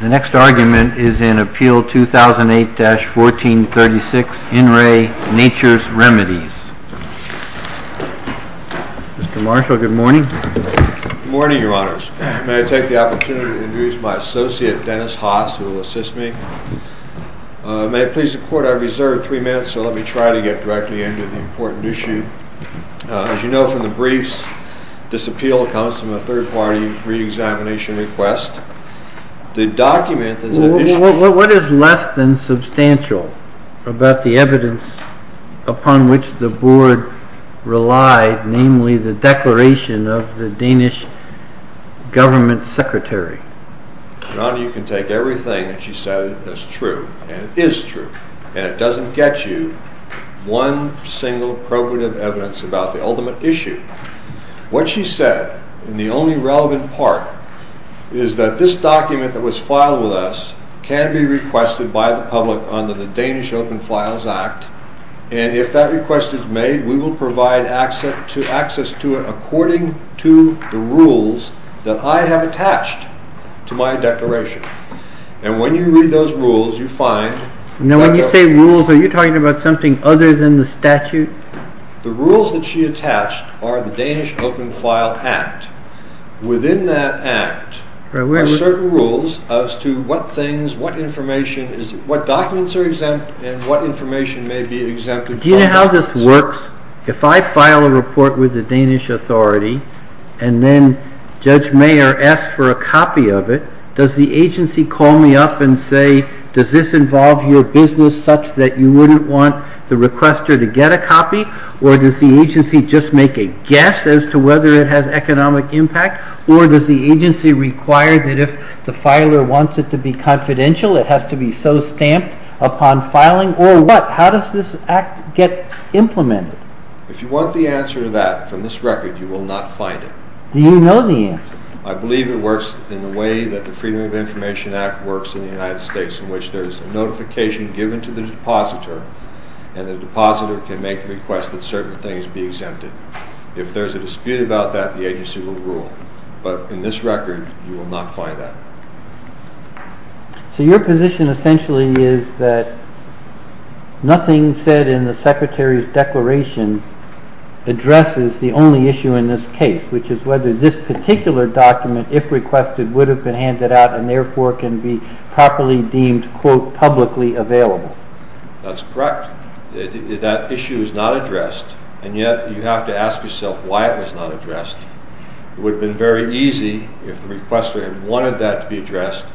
The next argument is in Appeal 2008-1436, In Re Natures Remedies. Mr. Marshall, good morning. Good morning, Your Honors. May I take the opportunity to introduce my associate, Dennis Haas, who will assist me? May it please the Court, I reserve three minutes, so let me try to get directly into the important issue. As you know from the briefs, this appeal comes from a third-party re-examination request. What is less than substantial about the evidence upon which the Board relied, namely the declaration of the Danish government secretary? Your Honor, you can take everything that she said as true, and it is true, and it doesn't get you one single probative evidence about the ultimate issue. What she said, and the only relevant part, is that this document that was filed with us can be requested by the public under the Danish Open Files Act, and if that request is made, we will provide access to it according to the rules that I have attached to my declaration. And when you read those rules, you find... Now when you say rules, are you talking about something other than the statute? The rules that she attached are the Danish Open File Act. Within that act are certain rules as to what things, what information, what documents are exempt, and what information may be exempted. Do you know how this works? If I file a report with the Danish Authority, and then Judge Mayer asks for a copy of it, does the agency call me up and say, does this involve your business such that you wouldn't want the requester to get a copy? Or does the agency just make a guess as to whether it has economic impact? Or does the agency require that if the filer wants it to be confidential, it has to be so stamped upon filing? Or what? How does this act get implemented? If you want the answer to that from this record, you will not find it. Do you know the answer? I believe it works in the way that the Freedom of Information Act works in the United States, in which there is a notification given to the depositor, and the depositor can make the request that certain things be exempted. If there is a dispute about that, the agency will rule. But in this record, you will not find that. So your position essentially is that nothing said in the Secretary's declaration addresses the only issue in this case, which is whether this particular document, if requested, would have been handed out, and therefore can be properly deemed, quote, publicly available. That's correct. That issue is not addressed, and yet you have to ask yourself why it was not addressed. It would have been very easy, if the requester had wanted that to be addressed,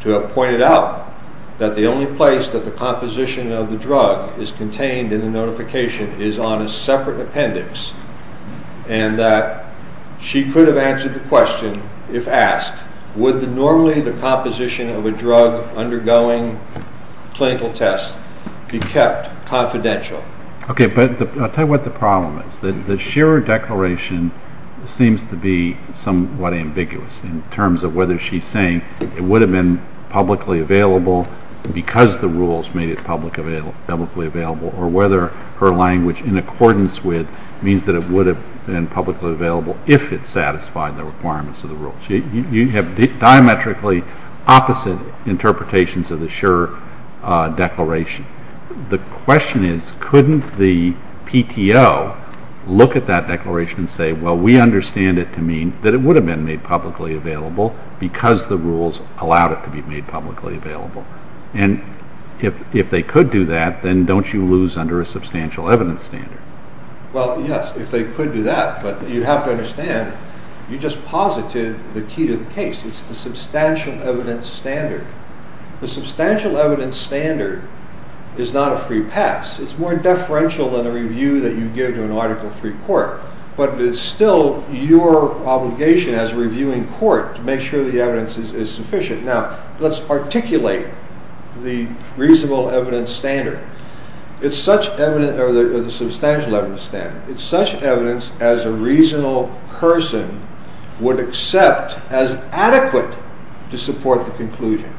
to have pointed out that the only place that the composition of the drug is contained in the notification is on a separate appendix, and that she could have answered the question if asked, would normally the composition of a drug undergoing clinical tests be kept confidential? Okay, but I'll tell you what the problem is. The Shearer declaration seems to be somewhat ambiguous in terms of whether she's saying it would have been publicly available because the rules made it publicly available, or whether her language in accordance with means that it would have been publicly available if it satisfied the requirements of the rules. You have diametrically opposite interpretations of the Shearer declaration. The question is, couldn't the PTO look at that declaration and say, well, we understand it to mean that it would have been made publicly available because the rules allowed it to be made publicly available? And if they could do that, then don't you lose under a substantial evidence standard? Well, yes, if they could do that. But you have to understand, you just posited the key to the case. It's the substantial evidence standard. The substantial evidence standard is not a free pass. It's more deferential than a review that you give to an Article III court. But it's still your obligation as a reviewing court to make sure the evidence is sufficient. Now, let's articulate the reasonable evidence standard. It's such evidence, or the substantial evidence standard. It's such evidence as a reasonable person would accept as adequate to support the conclusion.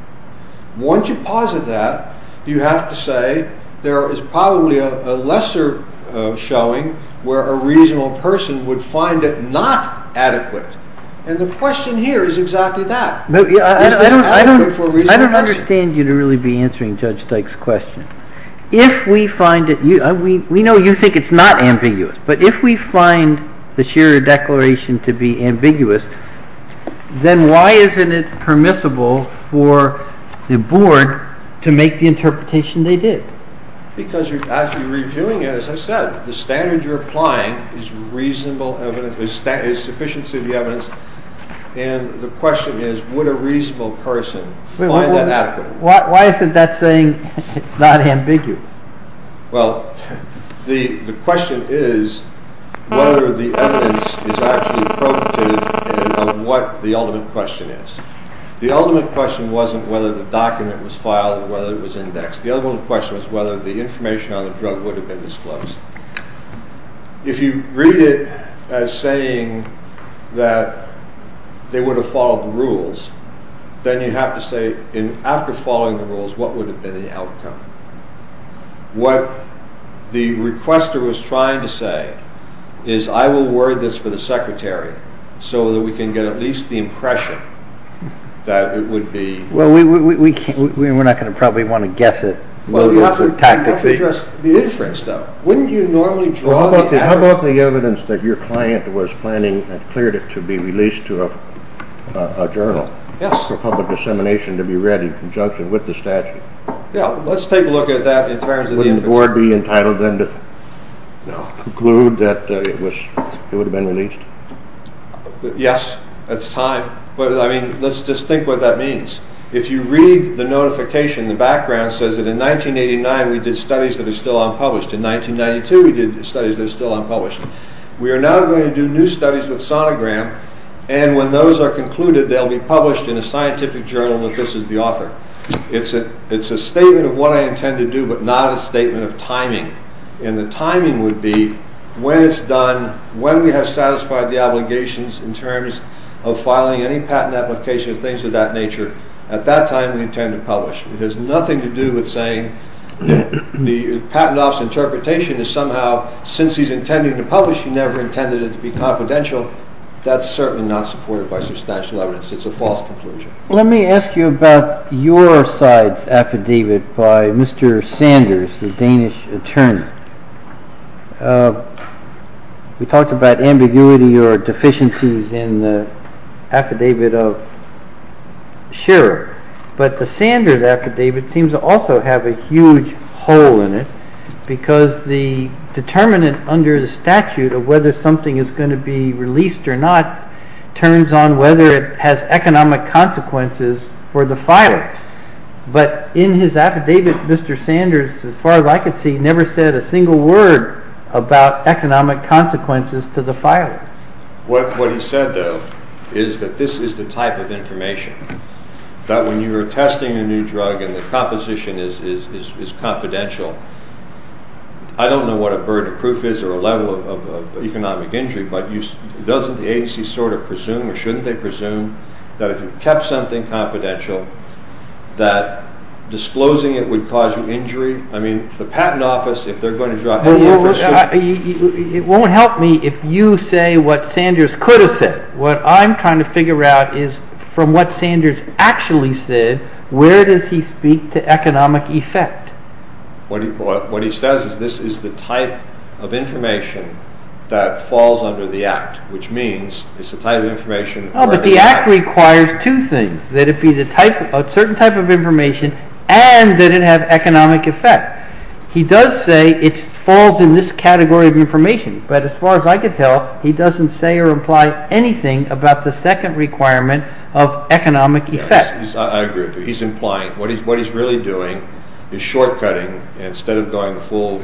Once you posit that, you have to say there is probably a lesser showing where a reasonable person would find it not adequate. And the question here is exactly that. I don't understand you to really be answering Judge Dyke's question. If we find it, we know you think it's not ambiguous, but if we find the Shearer Declaration to be ambiguous, then why isn't it permissible for the Board to make the interpretation they did? Because you're actually reviewing it. As I said, the standard you're applying is sufficient to the evidence. And the question is, would a reasonable person find it adequate? Why isn't that saying it's not ambiguous? Well, the question is whether the evidence is actually probative of what the ultimate question is. The ultimate question wasn't whether the document was filed or whether it was indexed. The ultimate question was whether the information on the drug would have been disclosed. If you read it as saying that they would have followed the rules, then you have to say, after following the rules, what would have been the outcome? What the requester was trying to say is, I will word this for the Secretary so that we can get at least the impression that it would be... Well, we're not going to probably want to guess it. You have to address the inference, though. Wouldn't you normally draw the average... How about the evidence that your client was planning and cleared it to be released to a journal for public dissemination to be read in conjunction with the statute? Yeah, let's take a look at that in terms of the inference. Wouldn't the Board be entitled then to conclude that it would have been released? Yes, that's time. But, I mean, let's just think what that means. If you read the notification, the background says that, in 1989, we did studies that are still unpublished. In 1992, we did studies that are still unpublished. We are now going to do new studies with Sonogram, and when those are concluded, they'll be published in a scientific journal that this is the author. It's a statement of what I intend to do, but not a statement of timing. And the timing would be when it's done, when we have satisfied the obligations in terms of filing any patent application or things of that nature. At that time, we intend to publish. It has nothing to do with saying that the patent officer's interpretation is somehow, since he's intending to publish, he never intended it to be confidential. That's certainly not supported by substantial evidence. It's a false conclusion. Let me ask you about your side's affidavit by Mr. Sanders, the Danish attorney. We talked about ambiguity or deficiencies in the affidavit of Scherer, but the Sanders affidavit seems to also have a huge hole in it because the determinant under the statute of whether something is going to be released or not turns on whether it has economic consequences for the filer. But in his affidavit, Mr. Sanders, as far as I could see, never said a single word about economic consequences to the filer. What he said, though, is that this is the type of information that when you are testing a new drug and the composition is confidential, I don't know what a burden of proof is or a level of economic injury, but doesn't the agency sort of presume or shouldn't they presume that if you kept something confidential that disclosing it would cause you injury? I mean, the Patent Office, if they're going to draw a headline for a suit... It won't help me if you say what Sanders could have said. What I'm trying to figure out is from what Sanders actually said, where does he speak to economic effect? What he says is this is the type of information that falls under the Act, which means it's the type of information... No, but the Act requires two things, that it be a certain type of information and that it have economic effect. He does say it falls in this category of information, but as far as I could tell, he doesn't say or imply anything about the second requirement of economic effect. I agree with you. He's implying what he's really doing is short-cutting, instead of going full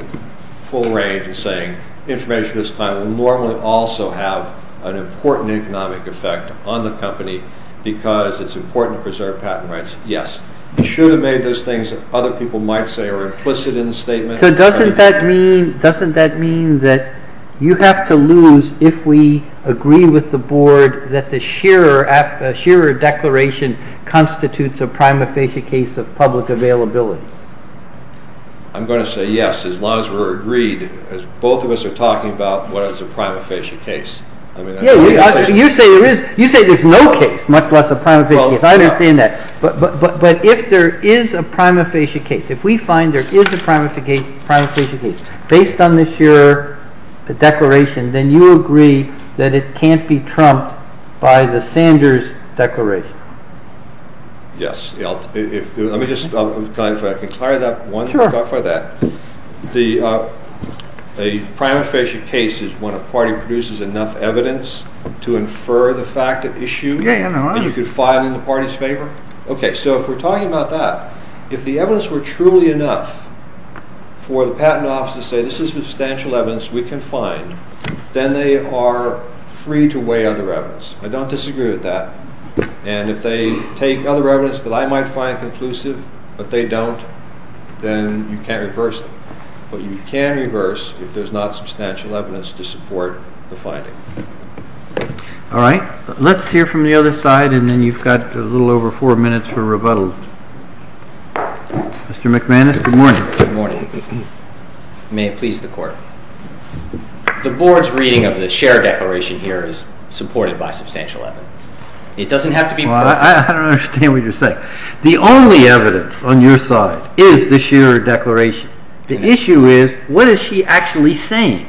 range and saying information of this kind would normally also have an important economic effect on the company because it's important to preserve patent rights. Yes, he should have made those things that other people might say are implicit in the statement. So doesn't that mean that you have to lose if we agree with the Board that the Shearer Declaration constitutes a prima facie case of public availability? I'm going to say yes, as long as we're agreed. As both of us are talking about what is a prima facie case. You say there's no case, much less a prima facie case. I understand that. But if there is a prima facie case, if we find there is a prima facie case based on the Shearer Declaration, then you agree that it can't be trumped by the Sanders Declaration. Yes. Let me just clarify that. A prima facie case is when a party produces enough evidence to infer the fact at issue, and you can file in the party's favor. So if we're talking about that, if the evidence were truly enough for the patent office to say this is substantial evidence we can find, then they are free to weigh other evidence. I don't disagree with that. And if they take other evidence that I might find conclusive, but they don't, then you can't reverse it. But you can reverse if there's not substantial evidence to support the finding. All right. Let's hear from the other side, and then you've got a little over four minutes for rebuttal. Mr. McManus, good morning. Good morning. May it please the Court. The Board's reading of the Shearer Declaration here is supported by substantial evidence. It doesn't have to be proof. I don't understand what you're saying. The only evidence on your side is the Shearer Declaration. The issue is what is she actually saying?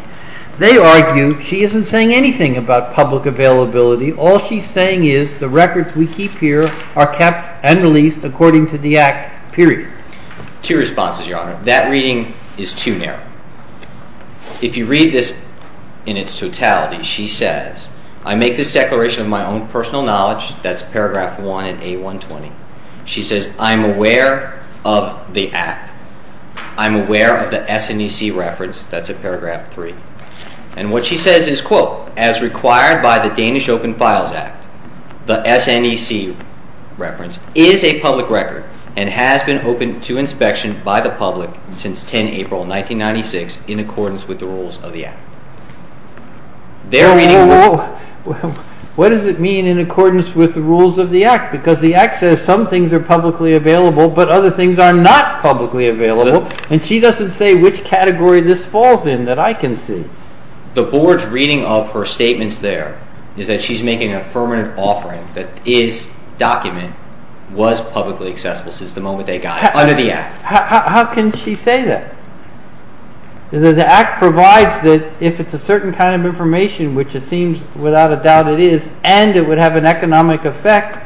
They argue she isn't saying anything about public availability. All she's saying is the records we keep here are kept and released according to the Act, period. Two responses, Your Honor. That reading is too narrow. If you read this in its totality, she says, I make this declaration of my own personal knowledge, that's paragraph 1 in A120. She says, I'm aware of the Act. I'm aware of the SNEC reference. That's at paragraph 3. And what she says is, quote, as required by the Danish Open Files Act, the SNEC reference is a public record and has been open to inspection by the public since 10 April 1996 in accordance with the rules of the Act. Whoa, whoa. What does it mean in accordance with the rules of the Act? Because the Act says some things are publicly available, but other things are not publicly available. And she doesn't say which category this falls in, that I can see. The Board's reading of her statements there is that she's making an affirmative offering that this document was publicly accessible since the moment they got it under the Act. How can she say that? The Act provides that if it's a certain kind of information, which it seems without a doubt it is, and it would have an economic effect,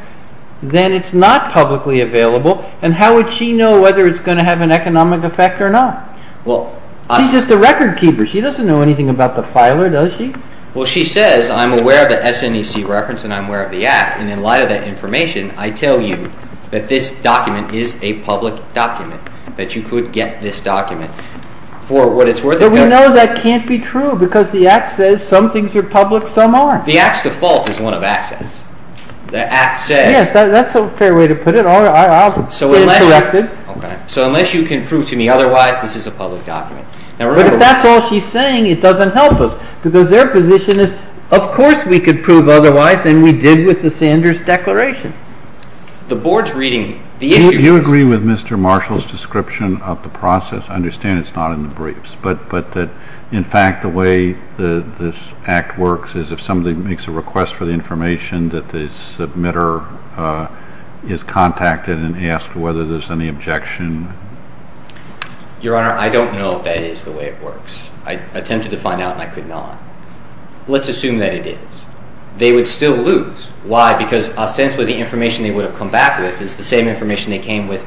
then it's not publicly available. And how would she know whether it's going to have an economic effect or not? She's just a record keeper. She doesn't know anything about the filer, does she? Well, she says, I'm aware of the SNEC reference and I'm aware of the Act. And in light of that information, I tell you that this document is a public document, that you could get this document. But we know that can't be true because the Act says some things are public, some aren't. The Act's default is one of access. Yes, that's a fair way to put it. I'll get it corrected. So unless you can prove to me otherwise, this is a public document. But if that's all she's saying, it doesn't help us because their position is, of course we could prove otherwise, and we did with the Sanders Declaration. The Board's reading it. Do you agree with Mr. Marshall's description of the process to understand it's not in the briefs, but that in fact the way this Act works is if somebody makes a request for the information that the submitter is contacted and he asks whether there's any objection? Your Honor, I don't know if that is the way it works. I attempted to find out and I could not. Let's assume that it is. They would still lose. Why? Because ostensibly the information they would have come back with is the same information they came with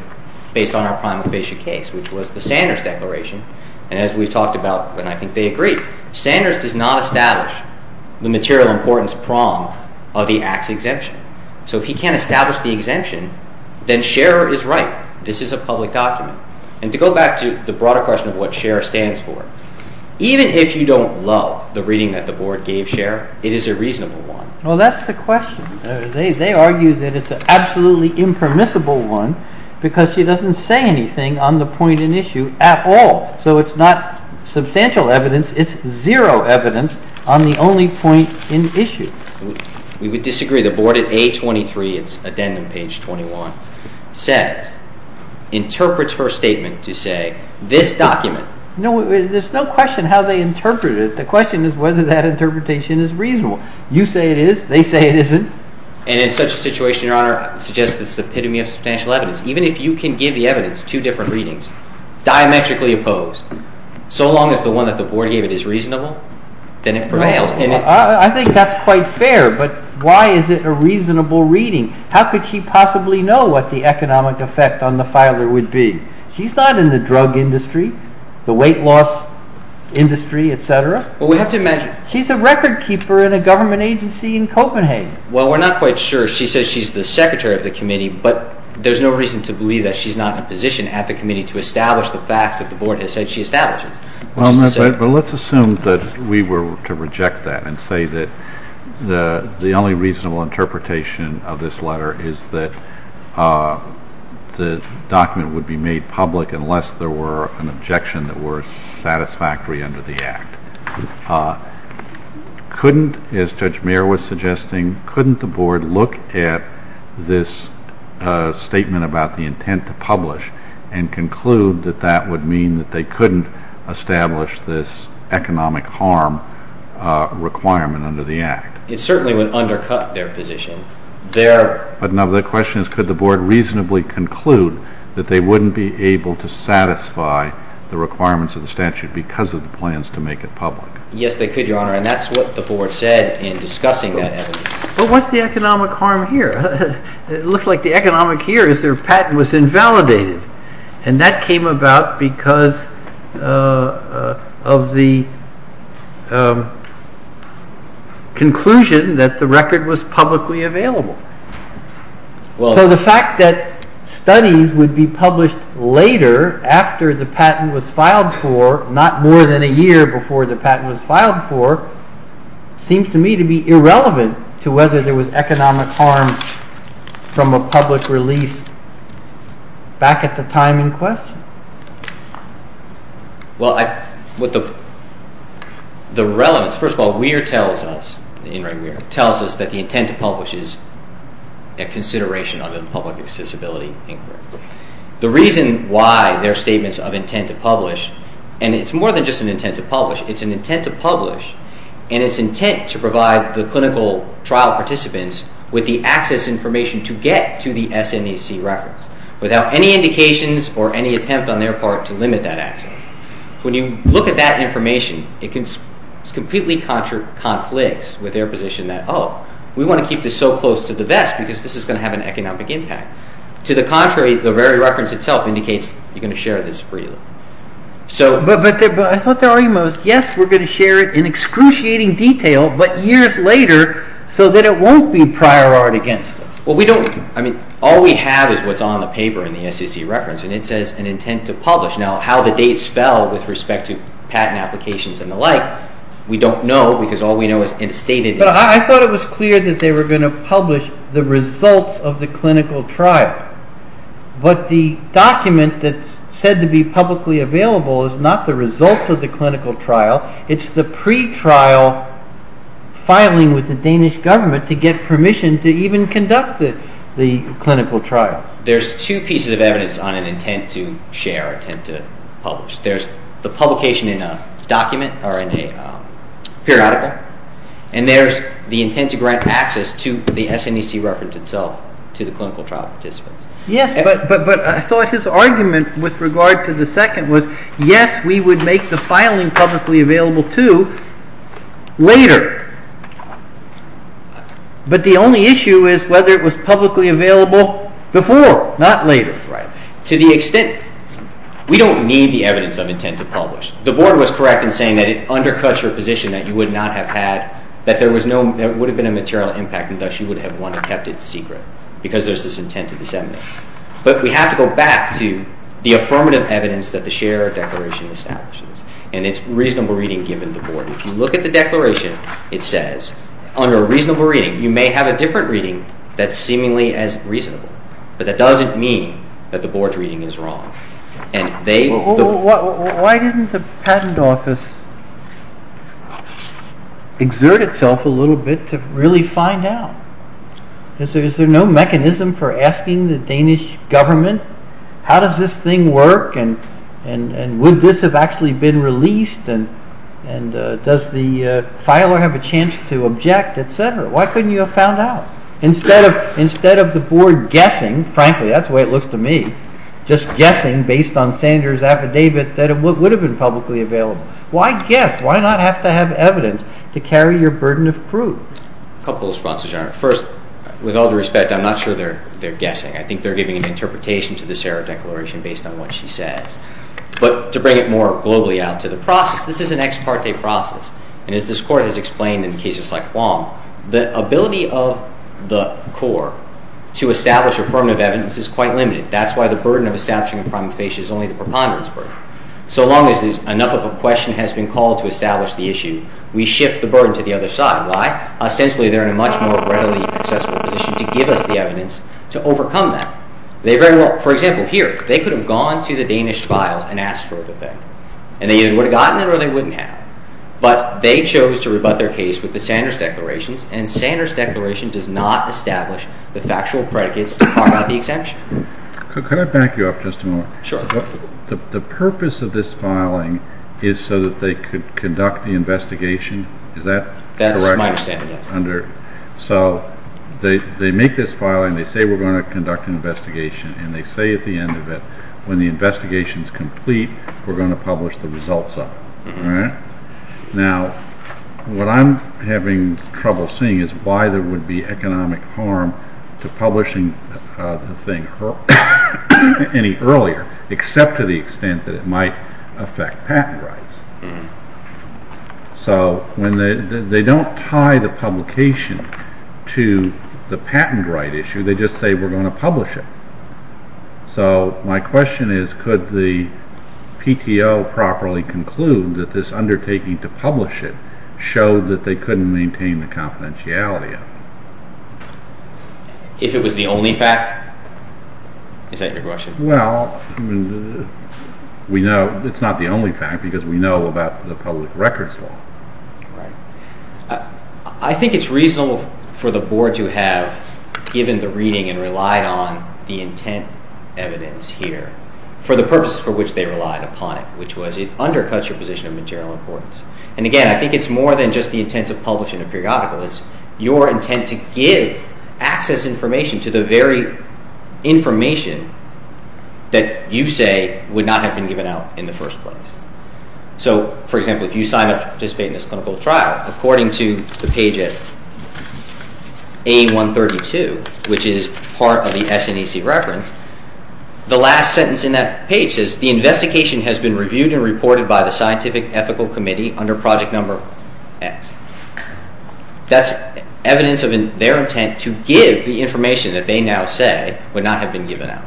based on our prima facie case, which was the Sanders Declaration. And as we've talked about, and I think they agree, Sanders does not establish the material importance prong of the Act's exemption. So if he can't establish the exemption, then Scherer is right. This is a public document. And to go back to the broader question of what Scherer stands for, even if you don't love the reading that the Board gave Scherer, it is a reasonable one. Well, that's the question. They argue that it's an absolutely impermissible one because she doesn't say anything on the point in issue at all. So it's not substantial evidence. It's zero evidence on the only point in issue. We would disagree. The Board at A23, it's addendum page 21, says, interprets her statement to say, this document. No, there's no question how they interpret it. The question is whether that interpretation is reasonable. They say it isn't. And in such a situation, Your Honor, I suggest it's the epitome of substantial evidence. Even if you can give the evidence two different readings, diametrically opposed, so long as the one that the Board gave it is reasonable, then it prevails. I think that's quite fair. But why is it a reasonable reading? How could she possibly know what the economic effect on the filer would be? She's not in the drug industry, the weight loss industry, et cetera. Well, we have to imagine. She's a record keeper in a government agency in Copenhagen. Well, we're not quite sure. She says she's the secretary of the committee, but there's no reason to believe that she's not in a position at the committee to establish the facts that the Board has said she establishes. Well, but let's assume that we were to reject that and say that the only reasonable interpretation of this letter is that the document would be made public unless there were an objection that were satisfactory under the Act. Couldn't, as Judge Muir was suggesting, couldn't the Board look at this statement about the intent to publish and conclude that that would mean that they couldn't establish this economic harm requirement under the Act? It certainly would undercut their position. But now the question is, could the Board reasonably conclude that they wouldn't be able to satisfy the requirements of the statute because of the plans to make it public? Yes, they could, Your Honor, and that's what the Board said in discussing that evidence. But what's the economic harm here? It looks like the economic here is their patent was invalidated, and that came about because of the conclusion that the record was publicly available. So the fact that studies would be published later, after the patent was filed for, not more than a year before the patent was filed for, seems to me to be irrelevant to whether there was economic harm from a public release back at the time in question. Well, the relevance, first of all, Muir tells us, In Re Muir, tells us that the intent to publish is a consideration under the Public Accessibility Inquiry. The reason why their statements of intent to publish and it's more than just an intent to publish, it's an intent to publish and it's intent to provide the clinical trial participants with the access information to get to the SNAC reference without any indications or any attempt on their part to limit that access. When you look at that information, it completely conflicts with their position that, Oh, we want to keep this so close to the vest because this is going to have an economic impact. To the contrary, the very reference itself indicates you're going to share this freely. But I thought the argument was, yes, we're going to share it in excruciating detail, but years later so that it won't be prior art against us. Well, we don't, I mean, all we have is what's on the paper in the SEC reference and it says an intent to publish. Now, how the dates fell with respect to patent applications and the like, we don't know because all we know is in a stated instance. But I thought it was clear that they were going to publish the results of the clinical trial, but the document that's said to be publicly available is not the results of the clinical trial. It's the pre-trial filing with the Danish government to get permission to even conduct the clinical trial. There's two pieces of evidence on an intent to share, intent to publish. There's the publication in a document or in a periodical, and there's the intent to grant access to the SNAC reference itself to the clinical trial participants. Yes, but I thought his argument with regard to the second was, yes, we would make the filing publicly available too later. But the only issue is whether it was publicly available before, not later. Right. To the extent, we don't need the evidence of intent to publish. The Board was correct in saying that it undercuts your position that you would not have had, that there would have been a material impact and thus you would have wanted to have kept it secret because there's this intent to disseminate. But we have to go back to the affirmative evidence that the share declaration establishes, and it's reasonable reading given to the Board. If you look at the declaration, it says, under a reasonable reading, you may have a different reading that's seemingly as reasonable, but that doesn't mean that the Board's reading is wrong. Why didn't the Patent Office exert itself a little bit to really find out? Is there no mechanism for asking the Danish government, how does this thing work and would this have actually been released and does the filer have a chance to object, etc.? Why couldn't you have found out? Instead of the Board guessing, frankly, that's the way it looks to me, just guessing based on Sanders' affidavit that it would have been publicly available. Why guess? Why not have to have evidence to carry your burden of proof? A couple of responses, Your Honor. First, with all due respect, I'm not sure they're guessing. I think they're giving an interpretation to the share declaration based on what she says. But to bring it more globally out to the process, this is an ex parte process, and as this Court has explained in cases like Wong, the ability of the Court to establish affirmative evidence is quite limited. That's why the burden of establishing a prima facie is only the preponderance burden. So long as enough of a question has been called to establish the issue, we shift the burden to the other side. Why? Ostensibly, they're in a much more readily accessible position to give us the evidence to overcome that. For example, here, they could have gone to the Danish files and asked for the thing, and they either would have gotten it or they wouldn't have. But they chose to rebut their case with the Sanders declarations, and Sanders' declaration does not establish the factual predicates to carve out the exemption. Could I back you up just a moment? Sure. The purpose of this filing is so that they could conduct the investigation. Is that correct? That's my understanding, yes. So they make this filing. They say we're going to conduct an investigation, and they say at the end of it, when the investigation is complete, we're going to publish the results of it. All right? Now, what I'm having trouble seeing is why there would be economic harm to publishing the thing earlier except to the extent that it might affect patent rights. So they don't tie the publication to the patent right issue. They just say we're going to publish it. So my question is, could the PTO properly conclude that this undertaking to publish it showed that they couldn't maintain the confidentiality of it? If it was the only fact? Is that your question? Well, we know it's not the only fact because we know about the public records law. Right. I think it's reasonable for the Board to have given the reading and relied on the intent evidence here for the purposes for which they relied upon it, which was it undercuts your position of material importance. And again, I think it's more than just the intent to publish in a periodical. It's your intent to give access information to the very information that you say would not have been given out in the first place. So, for example, if you sign up to participate in this clinical trial, according to the page A132, which is part of the SNAC reference, the last sentence in that page says, the investigation has been reviewed and reported by the Scientific Ethical Committee under project number X. That's evidence of their intent to give the information that they now say would not have been given out.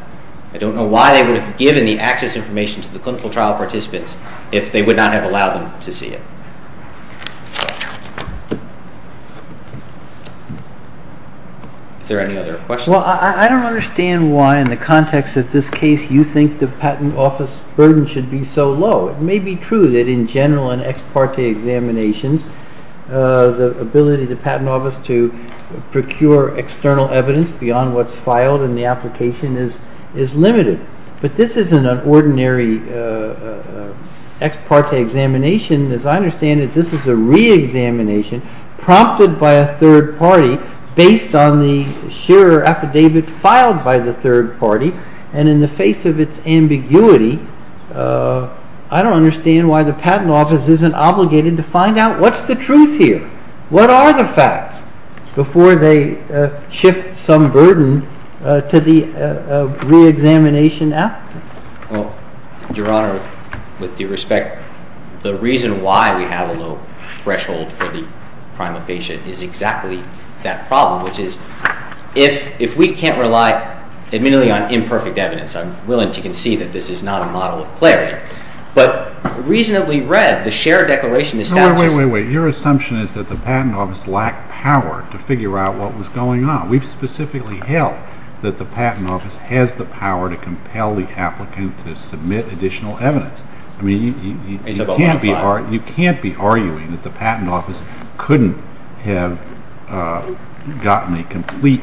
I don't know why they would have given the access information to the clinical trial participants if they would not have allowed them to see it. Is there any other questions? Well, I don't understand why in the context of this case you think the Patent Office burden should be so low. It may be true that in general in ex parte examinations, the ability of the Patent Office to procure external evidence beyond what's filed in the application is limited. But this isn't an ordinary ex parte examination. As I understand it, this is a re-examination prompted by a third party based on the shearer affidavit filed by the third party. And in the face of its ambiguity, I don't understand why the Patent Office isn't obligated to find out what's the truth here, what are the facts before they shift some burden to the re-examination applicant. Well, Your Honor, with due respect, the reason why we have a low threshold for the prima facie is exactly that problem, which is if we can't rely admittedly on imperfect evidence, I'm willing to concede that this is not a model of clarity. But reasonably read, the shearer declaration establishes... No, wait, wait, wait. Your assumption is that the Patent Office lacked power to figure out what was going on. We've specifically held that the Patent Office has the power to compel the applicant to submit additional evidence. I mean, you can't be arguing that the Patent Office couldn't have gotten a complete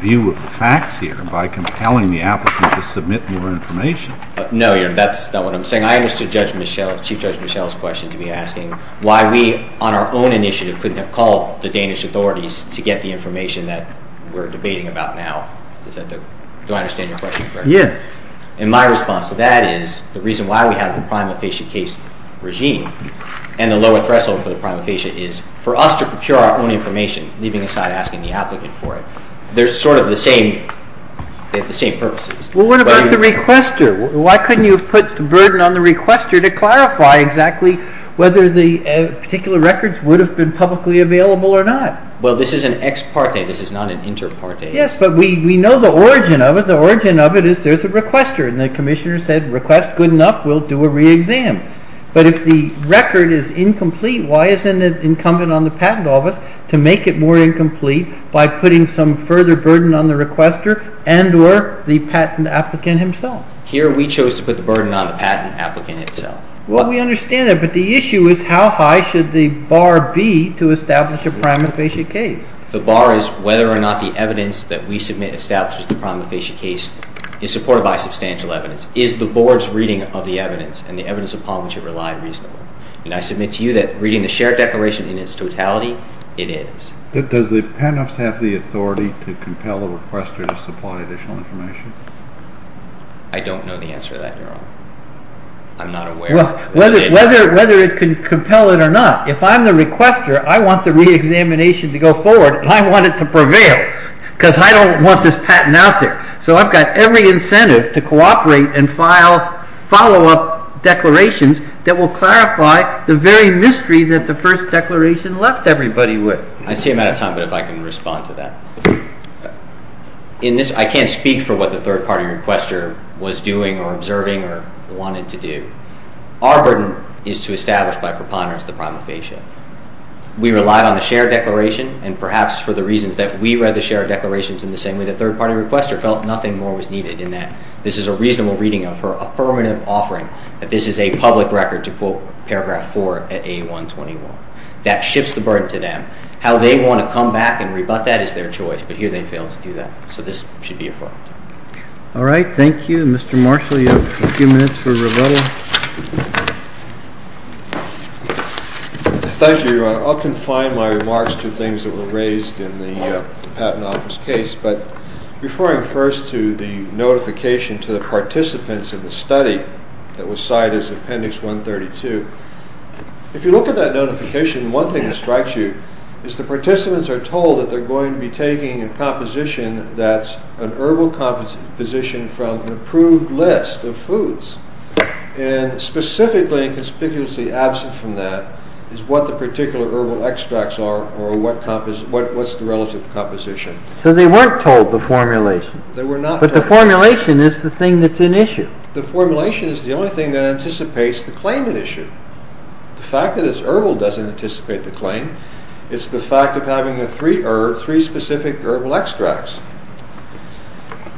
view of the facts here by compelling the applicant to submit more information. No, Your Honor, that's not what I'm saying. I understood Chief Judge Michel's question to be asking why we, on our own initiative, couldn't have called the Danish authorities to get the information that we're debating about now. Do I understand your question correctly? Yes. And my response to that is the reason why we have the prima facie case regime and the lower threshold for the prima facie is for us to procure our own information, leaving aside asking the applicant for it. They're sort of the same. They have the same purposes. Well, what about the requester? Why couldn't you have put the burden on the requester to clarify exactly whether the particular records would have been publicly available or not? Well, this is an ex parte. This is not an inter parte. Yes, but we know the origin of it. The origin of it is there's a requester, and the Commissioner said, request good enough, we'll do a re-exam. But if the record is incomplete, why isn't it incumbent on the patent office to make it more incomplete by putting some further burden on the requester and or the patent applicant himself? Here we chose to put the burden on the patent applicant himself. Well, we understand that, but the issue is how high should the bar be to establish a prima facie case? The bar is whether or not the evidence that we submit establishes the prima facie case is supported by substantial evidence. Is the board's reading of the evidence and the evidence upon which it relied reasonable? And I submit to you that reading the shared declaration in its totality, it is. Does the patent office have the authority to compel the requester to supply additional information? I don't know the answer to that, Your Honor. I'm not aware. Whether it can compel it or not, if I'm the requester, I want the re-examination to go forward, and I want it to prevail because I don't want this patent out there. So I've got every incentive to cooperate and file follow-up declarations that will clarify the very mystery that the first declaration left everybody with. I see I'm out of time, but if I can respond to that. I can't speak for what the third-party requester was doing or observing or wanted to do. Our burden is to establish by preponderance the prima facie. We relied on the shared declaration, and perhaps for the reasons that we read the shared declarations in the same way the third-party requester felt, nothing more was needed in that. This is a reasonable reading of her affirmative offering that this is a public record to quote paragraph 4 at A121. That shifts the burden to them. How they want to come back and rebut that is their choice, but here they failed to do that. So this should be affirmed. All right, thank you. Mr. Marshall, you have a few minutes for rebuttal. Thank you, Your Honor. I'll confine my remarks to things that were raised in the Patent Office case, but referring first to the notification to the participants in the study that was cited as Appendix 132, if you look at that notification, one thing that strikes you is the participants are told that they're going to be taking a composition that's an herbal composition from an approved list of foods, and specifically and conspicuously absent from that is what the particular herbal extracts are or what's the relative composition. So they weren't told the formulation. They were not told the formulation. But the formulation is the thing that's an issue. The formulation is the only thing that anticipates the claimant issue. The fact that it's herbal doesn't anticipate the claim. It's the fact of having three specific herbal extracts.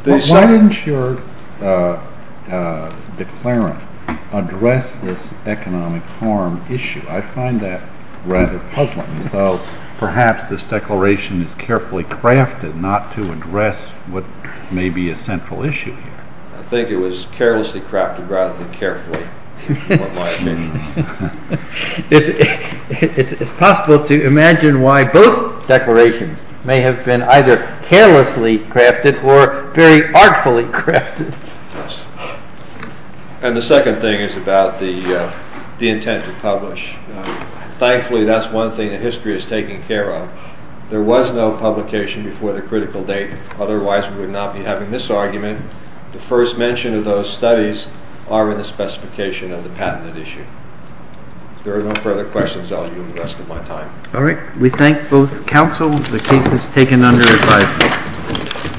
Why didn't your declarant address this economic harm issue? I find that rather puzzling. So perhaps this declaration is carefully crafted not to address what may be a central issue here. I think it was carelessly crafted rather than carefully, is what my opinion is. It's possible to imagine why both declarations may have been either carelessly crafted or very artfully crafted. And the second thing is about the intent to publish. Thankfully, that's one thing that history has taken care of. There was no publication before the critical date. Otherwise, we would not be having this argument. The first mention of those studies are in the specification of the patented issue. If there are no further questions, I'll give you the rest of my time. All right. We thank both counsel. The case is taken under advisory.